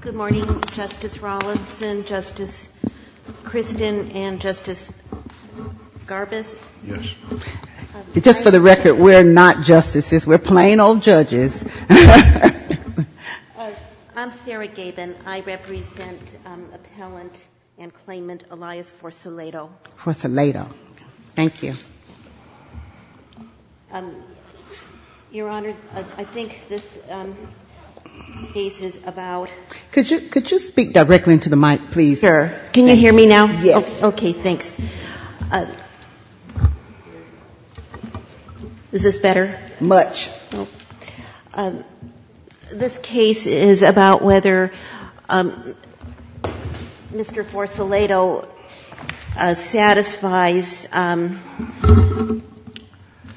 Good morning, Justice Rawlinson, Justice Christin, and Justice Garbus. Yes. Just for the record, we're not justices. We're plain old judges. I'm Sarah Gabin. I represent Appellant and Claimant Elias Forcelledo. Forcelledo. Thank you. Your Honor, I think this case is about Could you speak directly into the mic, please? Sure. Can you hear me now? Yes. Okay, thanks. Is this better? Much. This case is about whether Mr. Forcelledo satisfies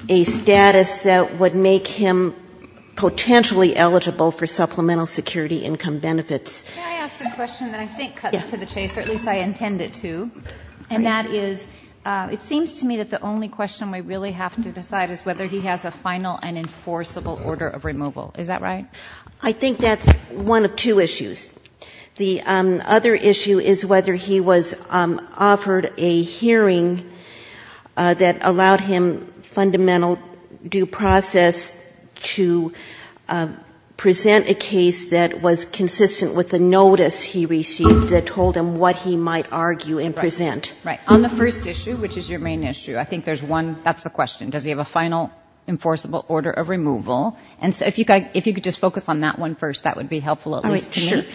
a status that would make him potentially eligible for supplemental security income benefits. May I ask a question that I think cuts to the chase, or at least I intend it to? And that is, it seems to me that the only question we really have to decide is whether he has a final and enforceable order of removal. Is that right? I think that's one of two issues. The other issue is whether he was offered a hearing that allowed him fundamental due process to present a case that was consistent with the notice he received that told him what he might argue and present. Right. On the first issue, which is your main issue, I think there's one, that's the question. Does he have a final enforceable order of removal? If you could just focus on that one first, that would be helpful at least to me.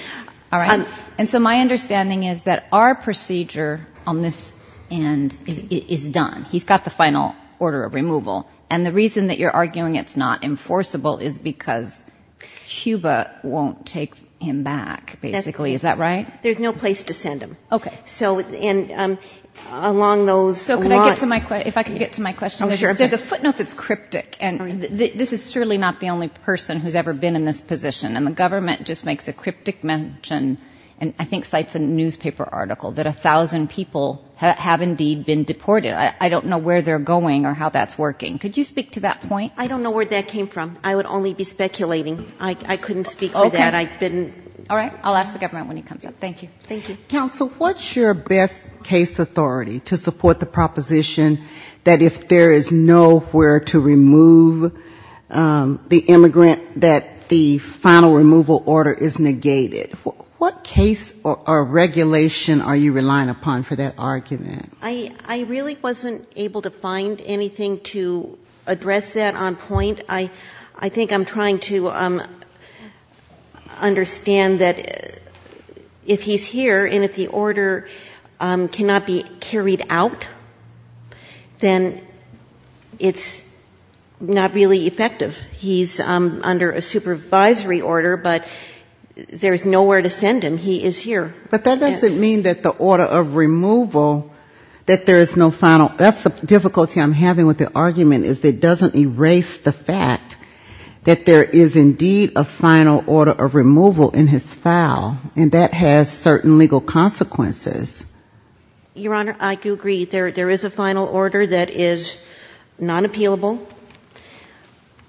All right. And so my understanding is that our procedure on this end is done. He's got the final order of removal. And the reason that you're arguing it's not enforceable is because CUBA won't take him back, basically. Is that right? There's no place to send him. Okay. So along those lines. So if I could get to my question. Oh, sure. There's a footnote that's cryptic. And this is surely not the only person who's ever been in this position. And the government just makes a cryptic mention, and I think cites a newspaper article, that 1,000 people have indeed been deported. I don't know where they're going or how that's working. Could you speak to that point? I don't know where that came from. I would only be speculating. I couldn't speak for that. Okay. All right. I'll ask the government when he comes up. Thank you. Thank you. Counsel, what's your best case authority to support the proposition that if there is nowhere to remove the immigrant, that the final removal order is negated? What case or regulation are you relying upon for that argument? I really wasn't able to find anything to address that on point. I think I'm trying to understand that if he's here and if the order cannot be carried out, then it's not really effective. He's under a supervisory order, but there's nowhere to send him. He is here. But that doesn't mean that the order of removal, that there is no final. That's the difficulty I'm having with the argument is it doesn't erase the fact that there is indeed a final order of removal in his file, and that has certain legal consequences. Your Honor, I do agree. There is a final order that is non-appealable,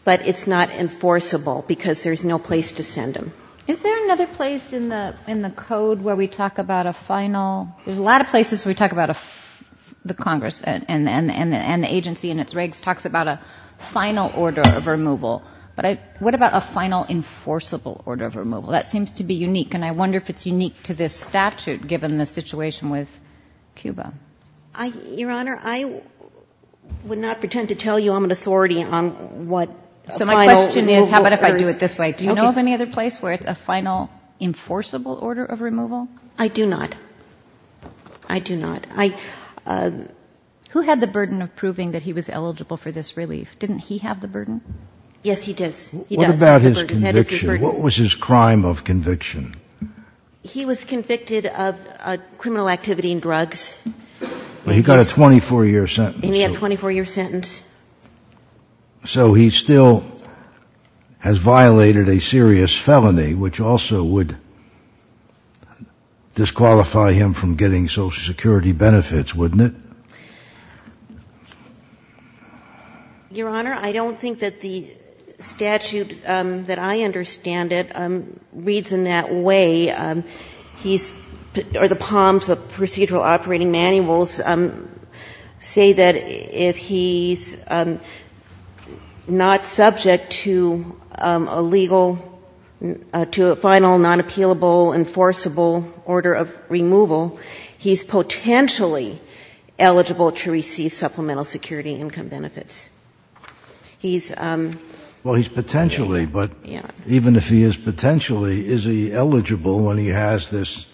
but it's not enforceable because there's no place to send him. Is there another place in the code where we talk about a final? There's a lot of places where we talk about the Congress and the agency and its regs talks about a final order of removal. But what about a final enforceable order of removal? That seems to be unique, and I wonder if it's unique to this statute given the situation with Cuba. Your Honor, I would not pretend to tell you I'm an authority on what a final removal order is. So my question is, how about if I do it this way? Do you know of any other place where it's a final enforceable order of removal? I do not. I do not. Who had the burden of proving that he was eligible for this relief? Didn't he have the burden? Yes, he does. What about his conviction? What was his crime of conviction? He was convicted of criminal activity and drugs. But he got a 24-year sentence. And he had a 24-year sentence. So he still has violated a serious felony, which also would disqualify him from getting Social Security benefits, wouldn't it? Your Honor, I don't think that the statute that I understand it reads in that way. He's, or the POMs, the Procedural Operating Manuals, say that if he's not subject to a legal, to a final, non-appealable, enforceable order of removal, he's potentially eligible to receive Supplemental Security Income benefits. Well, he's potentially. But even if he is potentially, is he eligible when he has this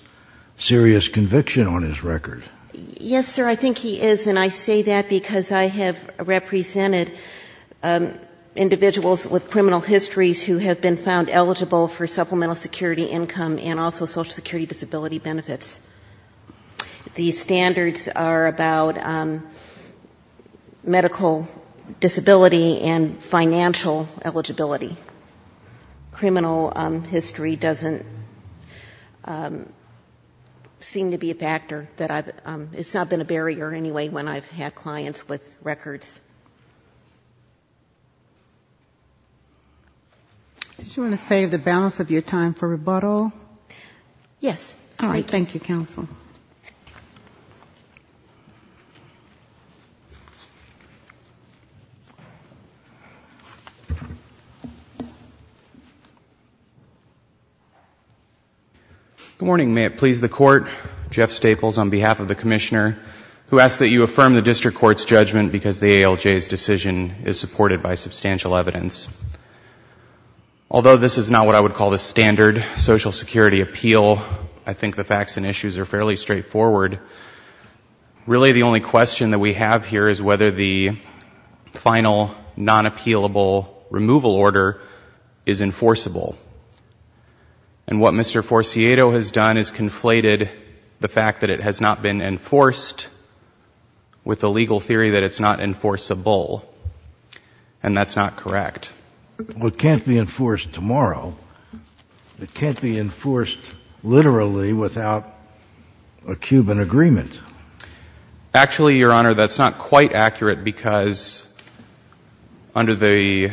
serious conviction on his record? Yes, sir, I think he is. And I say that because I have represented individuals with criminal histories who have been found eligible for Supplemental Security Income and also Social Security disability benefits. The standards are about medical disability and financial eligibility. Criminal history doesn't seem to be a factor that I've, it's not been a barrier anyway when I've had clients with records. Did you want to save the balance of your time for rebuttal? Yes. All right. Thank you, Counsel. Good morning. May it please the Court. Jeff Staples on behalf of the Commissioner, who asks that you affirm the District Court's judgment because the ALJ's decision is supported by substantial evidence. Although this is not what I would call the standard Social Security appeal, I think the facts and issues are fairly straightforward. Really, the only question that we have here is whether the final non-appealable removal order is enforceable. And what Mr. Forciato has done is conflated the fact that it has not been enforced with the legal theory that it's not enforceable. And that's not correct. Well, it can't be enforced tomorrow. It can't be enforced literally without a Cuban agreement. Actually, Your Honor, that's not quite accurate because under the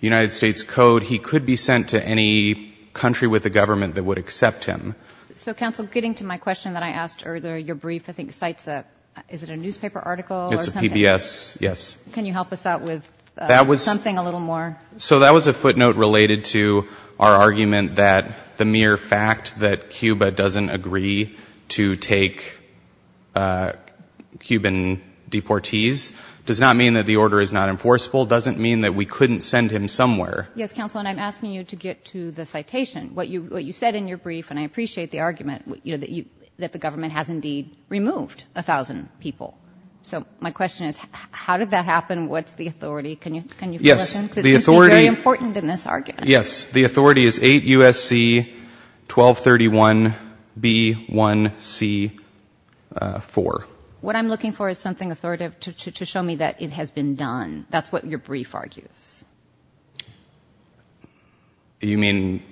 United States Code, he could be sent to any country with a government that would accept him. So, Counsel, getting to my question that I asked earlier, your brief, I think, cites a, is it a newspaper article or something? It's a PBS, yes. Can you help us out with something a little more? So that was a footnote related to our argument that the mere fact that Cuba doesn't agree to take Cuban deportees does not mean that the order is not enforceable. It doesn't mean that we couldn't send him somewhere. Yes, Counsel, and I'm asking you to get to the citation. What you said in your brief, and I appreciate the argument, that the government has indeed removed 1,000 people. So my question is, how did that happen? What's the authority? Can you fill us in? It seems to be very important in this argument. Yes, the authority is 8 U.S.C. 1231 B.1.C. 4. What I'm looking for is something authoritative to show me that it has been done. That's what your brief argues. You mean?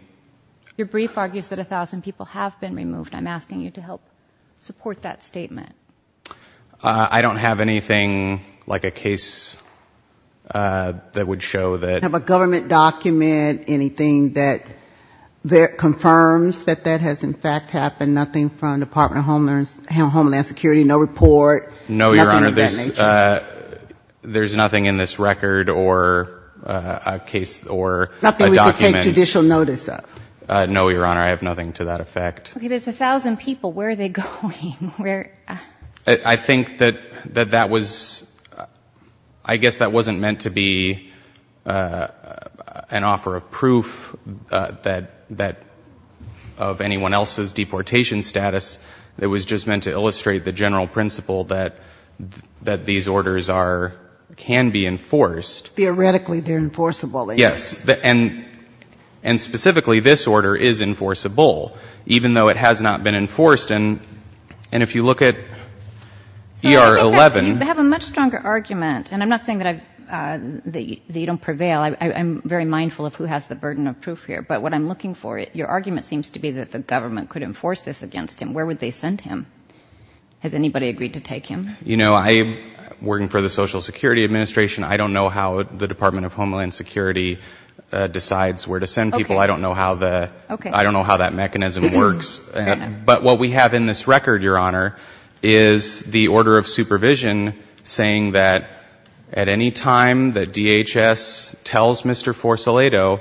Your brief argues that 1,000 people have been removed. I'm asking you to help support that statement. I don't have anything like a case that would show that. Do you have a government document, anything that confirms that that has, in fact, happened? Nothing from the Department of Homeland Security? No report? No, Your Honor. Nothing of that nature? There's nothing in this record or a case or a document. Nothing we can take judicial notice of? No, Your Honor. I have nothing to that effect. Okay, there's 1,000 people. Where are they going? I think that that was, I guess that wasn't meant to be an offer of proof of anyone else's deportation status. It was just meant to illustrate the general principle that these orders can be enforced. Theoretically, they're enforceable. Yes, and specifically, this order is enforceable. Even though it has not been enforced. And if you look at ER-11. You have a much stronger argument. And I'm not saying that you don't prevail. I'm very mindful of who has the burden of proof here. But what I'm looking for, your argument seems to be that the government could enforce this against him. Where would they send him? Has anybody agreed to take him? You know, I'm working for the Social Security Administration. I don't know how the Department of Homeland Security decides where to send people. I don't know how that mechanism works. But what we have in this record, your Honor, is the order of supervision saying that at any time that DHS tells Mr. Forsolato,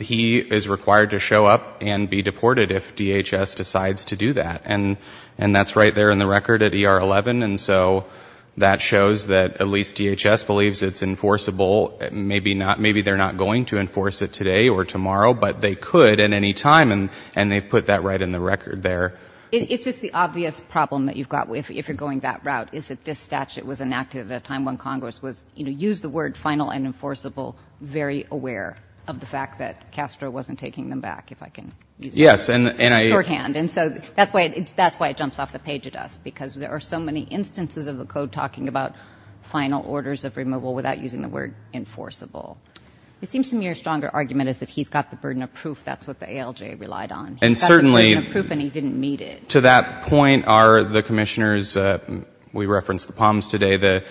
he is required to show up and be deported if DHS decides to do that. And that's right there in the record at ER-11. And so that shows that at least DHS believes it's enforceable. Maybe they're not going to enforce it today or tomorrow, but they could at any time. And they've put that right in the record there. It's just the obvious problem that you've got if you're going that route is that this statute was enacted at a time when Congress was, you know, used the word final and enforceable very aware of the fact that Castro wasn't taking them back, if I can use that. Yes, and I — Shorthand. And so that's why it jumps off the page at us, because there are so many instances of the code talking about final orders of removal without using the word enforceable. It seems to me your stronger argument is that he's got the burden of proof. That's what the ALJ relied on. He's got the burden of proof, and he didn't meet it. To that point are the commissioners. We referenced the Palms today.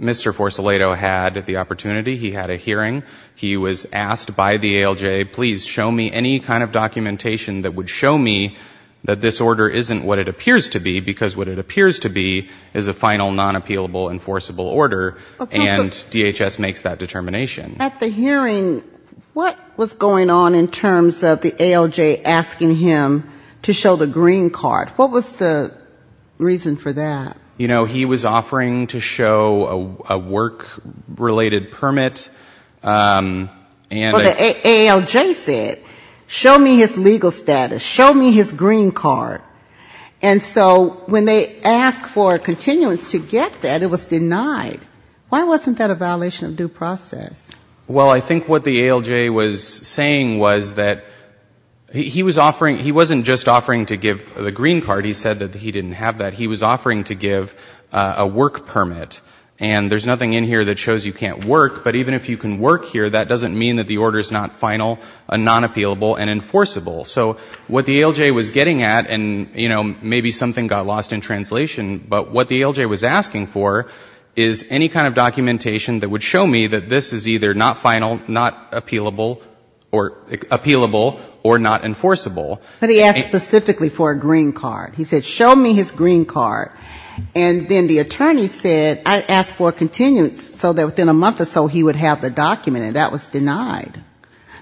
Mr. Forsolato had the opportunity. He had a hearing. He was asked by the ALJ, please show me any kind of documentation that would show me that this order isn't what it appears to be, because what it appears to be is a final, non-appealable, enforceable order, and DHS makes that determination. At the hearing, what was going on in terms of the ALJ asking him to show the green card? What was the reason for that? You know, he was offering to show a work-related permit. But the ALJ said, show me his legal status, show me his green card. And so when they asked for a continuance to get that, it was denied. Why wasn't that a violation of due process? Well, I think what the ALJ was saying was that he was offering, he wasn't just offering to give the green card, he said that he didn't have that. He was offering to give a work permit. And there's nothing in here that shows you can't work, but even if you can work here, that doesn't mean that the order is not final, non-appealable, and enforceable. So what the ALJ was getting at, and, you know, maybe something got lost in translation, but what the ALJ was asking for is any kind of documentation that would show me that this is either not final, not appealable, or not enforceable. But he asked specifically for a green card. He said, show me his green card. And then the attorney said, I asked for a continuance, so that within a month or so he would have the document, and that was denied.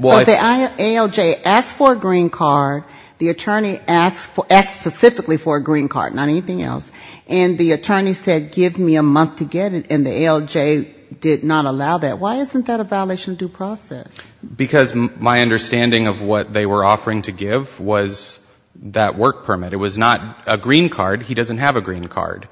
So if the ALJ asked for a green card, the attorney asked specifically for a green card, not anything else. And the attorney said, give me a month to get it, and the ALJ did not allow that. Why isn't that a violation of due process? Because my understanding of what they were offering to give was that work permit. It was not a green card. He doesn't have a green card.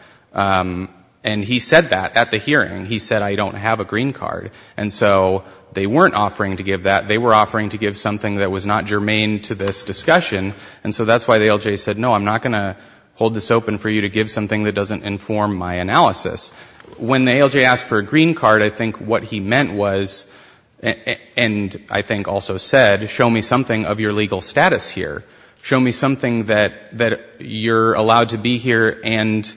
And he said that at the hearing. He said, I don't have a green card. And so they weren't offering to give that. They were offering to give something that was not germane to this discussion. And so that's why the ALJ said, no, I'm not going to hold this open for you to give something that doesn't inform my analysis. When the ALJ asked for a green card, I think what he meant was, and I think also said, show me something of your legal status here. Show me something that you're allowed to be here and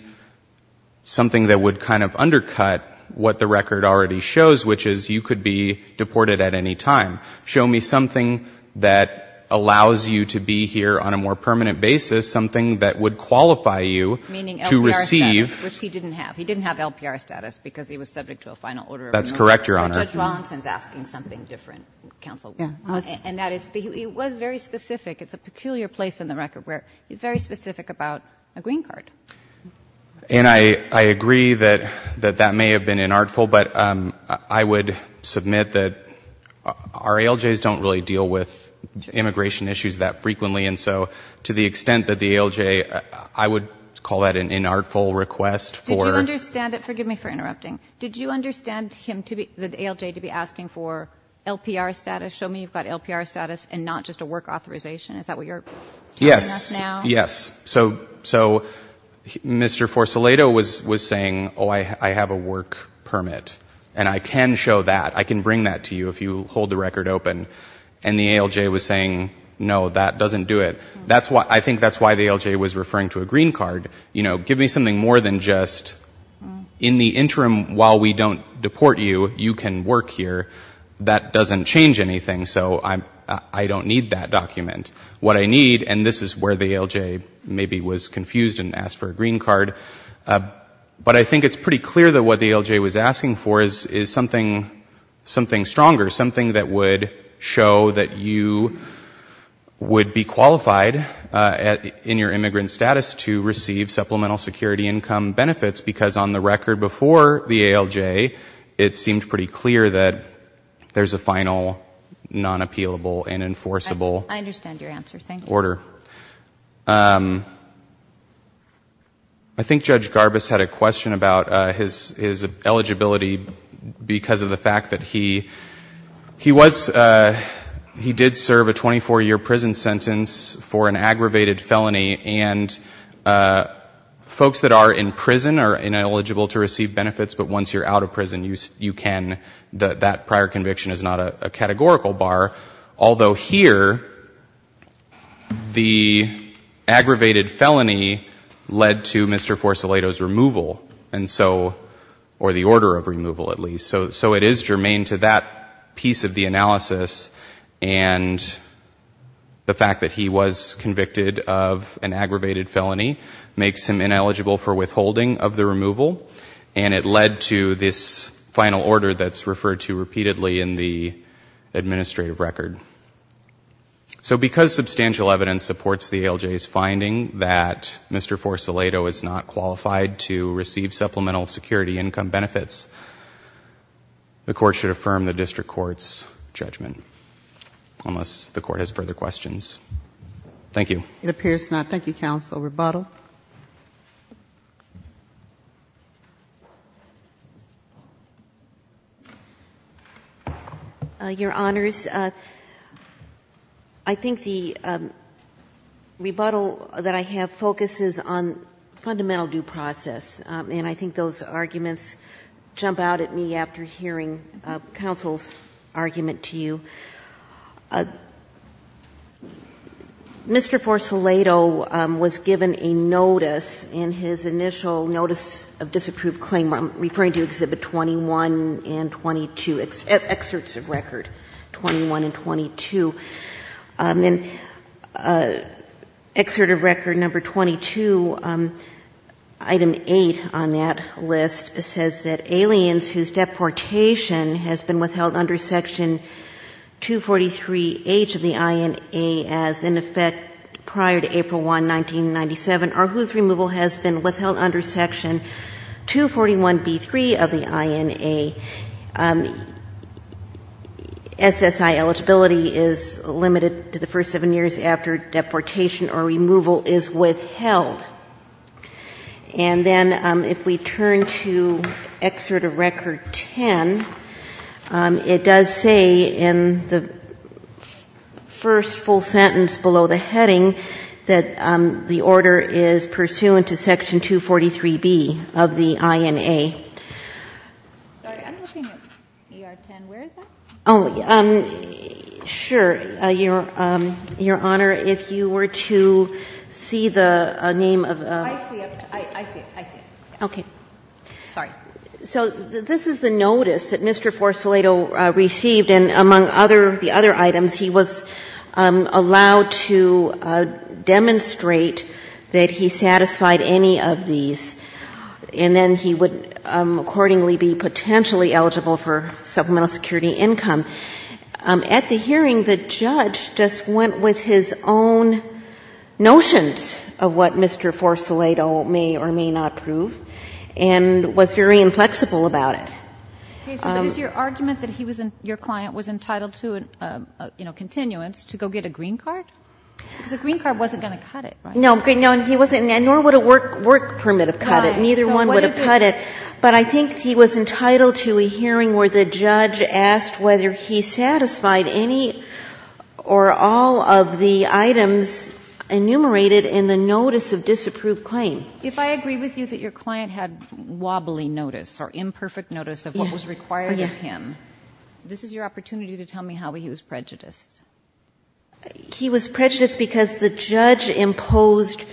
something that would kind of undercut what the record already shows, which is you could be deported at any time. Show me something that allows you to be here on a more permanent basis, something that would qualify you to receive. Which he didn't have. He didn't have LPR status because he was subject to a final order of removal. That's correct, Your Honor. Judge Rawlinson is asking something different, counsel. And that is, it was very specific. It's a peculiar place in the record where it's very specific about a green card. And I agree that that may have been inartful. But I would submit that our ALJs don't really deal with immigration issues that frequently. And so to the extent that the ALJ, I would call that an inartful request. Did you understand it? Forgive me for interrupting. Did you understand the ALJ to be asking for LPR status? Show me you've got LPR status and not just a work authorization. Is that what you're telling us now? Yes. Yes. So Mr. Forsolato was saying, oh, I have a work permit. And I can show that. I can bring that to you if you hold the record open. And the ALJ was saying, no, that doesn't do it. I think that's why the ALJ was referring to a green card. You know, give me something more than just, in the interim, while we don't deport you, you can work here. That doesn't change anything. So I don't need that document. What I need, and this is where the ALJ maybe was confused and asked for a green card. But I think it's pretty clear that what the ALJ was asking for is something stronger, something that would show that you would be qualified in your immigrant status to receive supplemental security income benefits, because on the record before the ALJ, it seemed pretty clear that there's a final non-appealable and enforceable order. Thank you. I think Judge Garbus had a question about his eligibility because of the fact that he was, he did serve a 24-year prison sentence for an aggravated felony. And folks that are in prison are ineligible to receive benefits, but once you're out of prison, you can. That prior conviction is not a categorical bar. Although here, the aggravated felony led to Mr. Forsolato's removal. And so, or the order of removal at least. So it is germane to that piece of the analysis. And the fact that he was convicted of an aggravated felony makes him ineligible for withholding of the removal. And it led to this final order that's referred to repeatedly in the administrative record. So because substantial evidence supports the ALJ's finding that Mr. Forsolato is not qualified to receive supplemental security income benefits, the court should affirm the district court's judgment, unless the court has further questions. Thank you. It appears not. Thank you, counsel. Rebuttal? Your Honors, I think the rebuttal that I have focuses on fundamental due process. And I think those arguments jump out at me after hearing counsel's argument to you. Mr. Forsolato was given a notice in his initial notice of disapproved claim. I'm referring to Exhibit 21 and 22, excerpts of record 21 and 22. In excerpt of record number 22, item 8 on that list says that aliens whose deportation has been withheld under Section 243H of the INA as in effect prior to April 1, 1997, or whose removal has been withheld under Section 241B3 of the INA, SSI eligibility is limited to the first seven years after deportation or removal is withheld. And then if we turn to excerpt of record 10, it does say in the first full sentence below the heading that the order is pursuant to Section 243B of the INA. Sorry, I'm looking at ER 10. Where is that? Oh, sure. Your Honor, if you were to see the name of the ---- I see it. I see it. I see it. Okay. Sorry. So this is the notice that Mr. Forsolato received. And among the other items, he was allowed to demonstrate that he satisfied any of these, and then he would accordingly be potentially eligible for supplemental security income. At the hearing, the judge just went with his own notions of what Mr. Forsolato may or may not prove and was very inflexible about it. Okay. But is your argument that he was an ---- your client was entitled to, you know, continuance to go get a green card? Because a green card wasn't going to cut it, right? No. And he wasn't ---- and nor would a work permit have cut it. Neither one would have cut it. But I think he was entitled to a hearing where the judge asked whether he satisfied any or all of the items enumerated in the notice of disapproved claim. If I agree with you that your client had wobbly notice or imperfect notice of what was required of him, this is your opportunity to tell me how he was prejudiced. He was prejudiced because the judge imposed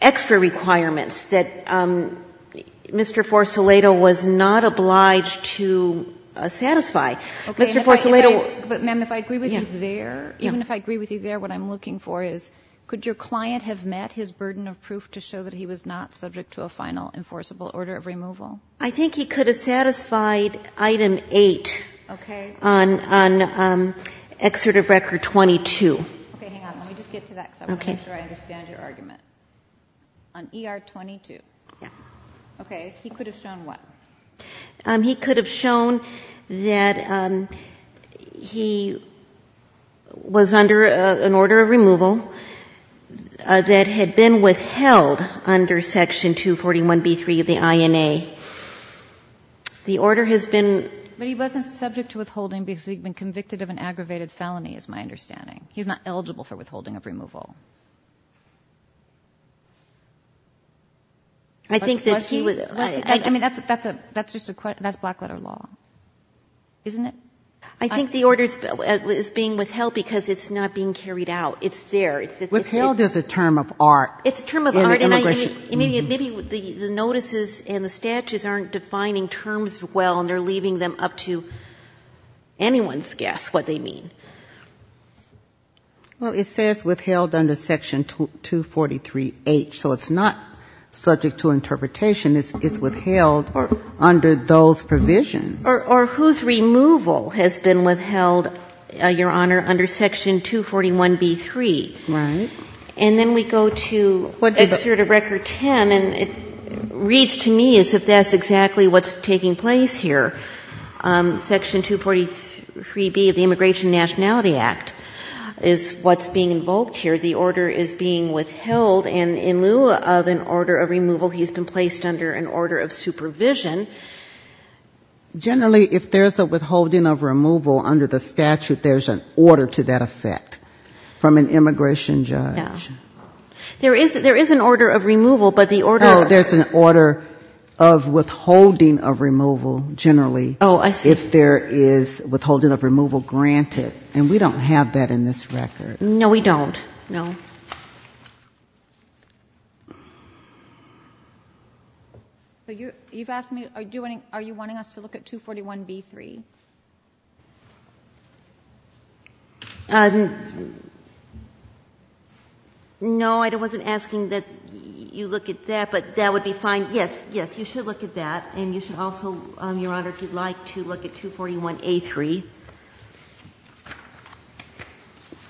extra requirements that Mr. Forsolato was not obliged to satisfy. Okay. Mr. Forsolato ---- But, ma'am, if I agree with you there, even if I agree with you there, what I'm looking for is could your client have met his burden of proof to show that he was not subject to a final enforceable order of removal? I think he could have satisfied Item 8 on Excerpt of Record 22. Okay. Hang on. Let me just get to that because I want to make sure I understand your argument. On ER 22. Yeah. Okay. He could have shown what? He could have shown that he was under an order of removal that had been withheld under Section 241b3 of the INA. The order has been ---- But he wasn't subject to withholding because he had been convicted of an aggravated felony is my understanding. He's not eligible for withholding of removal. I think that he was ---- I mean, that's just a question. That's black letter law, isn't it? I think the order is being withheld because it's not being carried out. It's there. Withheld is a term of art. It's a term of art. And maybe the notices and the statutes aren't defining terms well, and they're leaving them up to anyone's guess what they mean. Well, it says withheld under Section 243H. So it's not subject to interpretation. It's withheld under those provisions. Or whose removal has been withheld, Your Honor, under Section 241b3? Right. And then we go to Excerpt of Record 10, and it reads to me as if that's exactly what's taking place here. Section 243b of the Immigration Nationality Act is what's being invoked here. The order is being withheld. And in lieu of an order of removal, he's been placed under an order of supervision. Generally, if there's a withholding of removal under the statute, there's an order to that effect from an immigration judge. Yeah. There is an order of removal, but the order of ---- Oh, I see. If there is withholding of removal granted. And we don't have that in this record. No, we don't. No. You've asked me, are you wanting us to look at 241b3? No, I wasn't asking that you look at that, but that would be fine. Yes, yes, you should look at that. And you should also, Your Honor, if you'd like, to look at 241a3.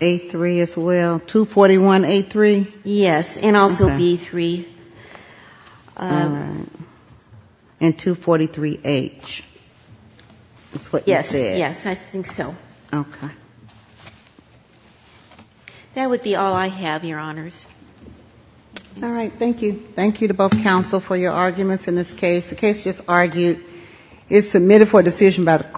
A3 as well. 241a3? Yes, and also b3. All right. And 243h. That's what you said. Yes, yes, I think so. Okay. That would be all I have, Your Honors. All right, thank you. Thank you to both counsel for your arguments in this case. The case just argued is submitted for decision by the court.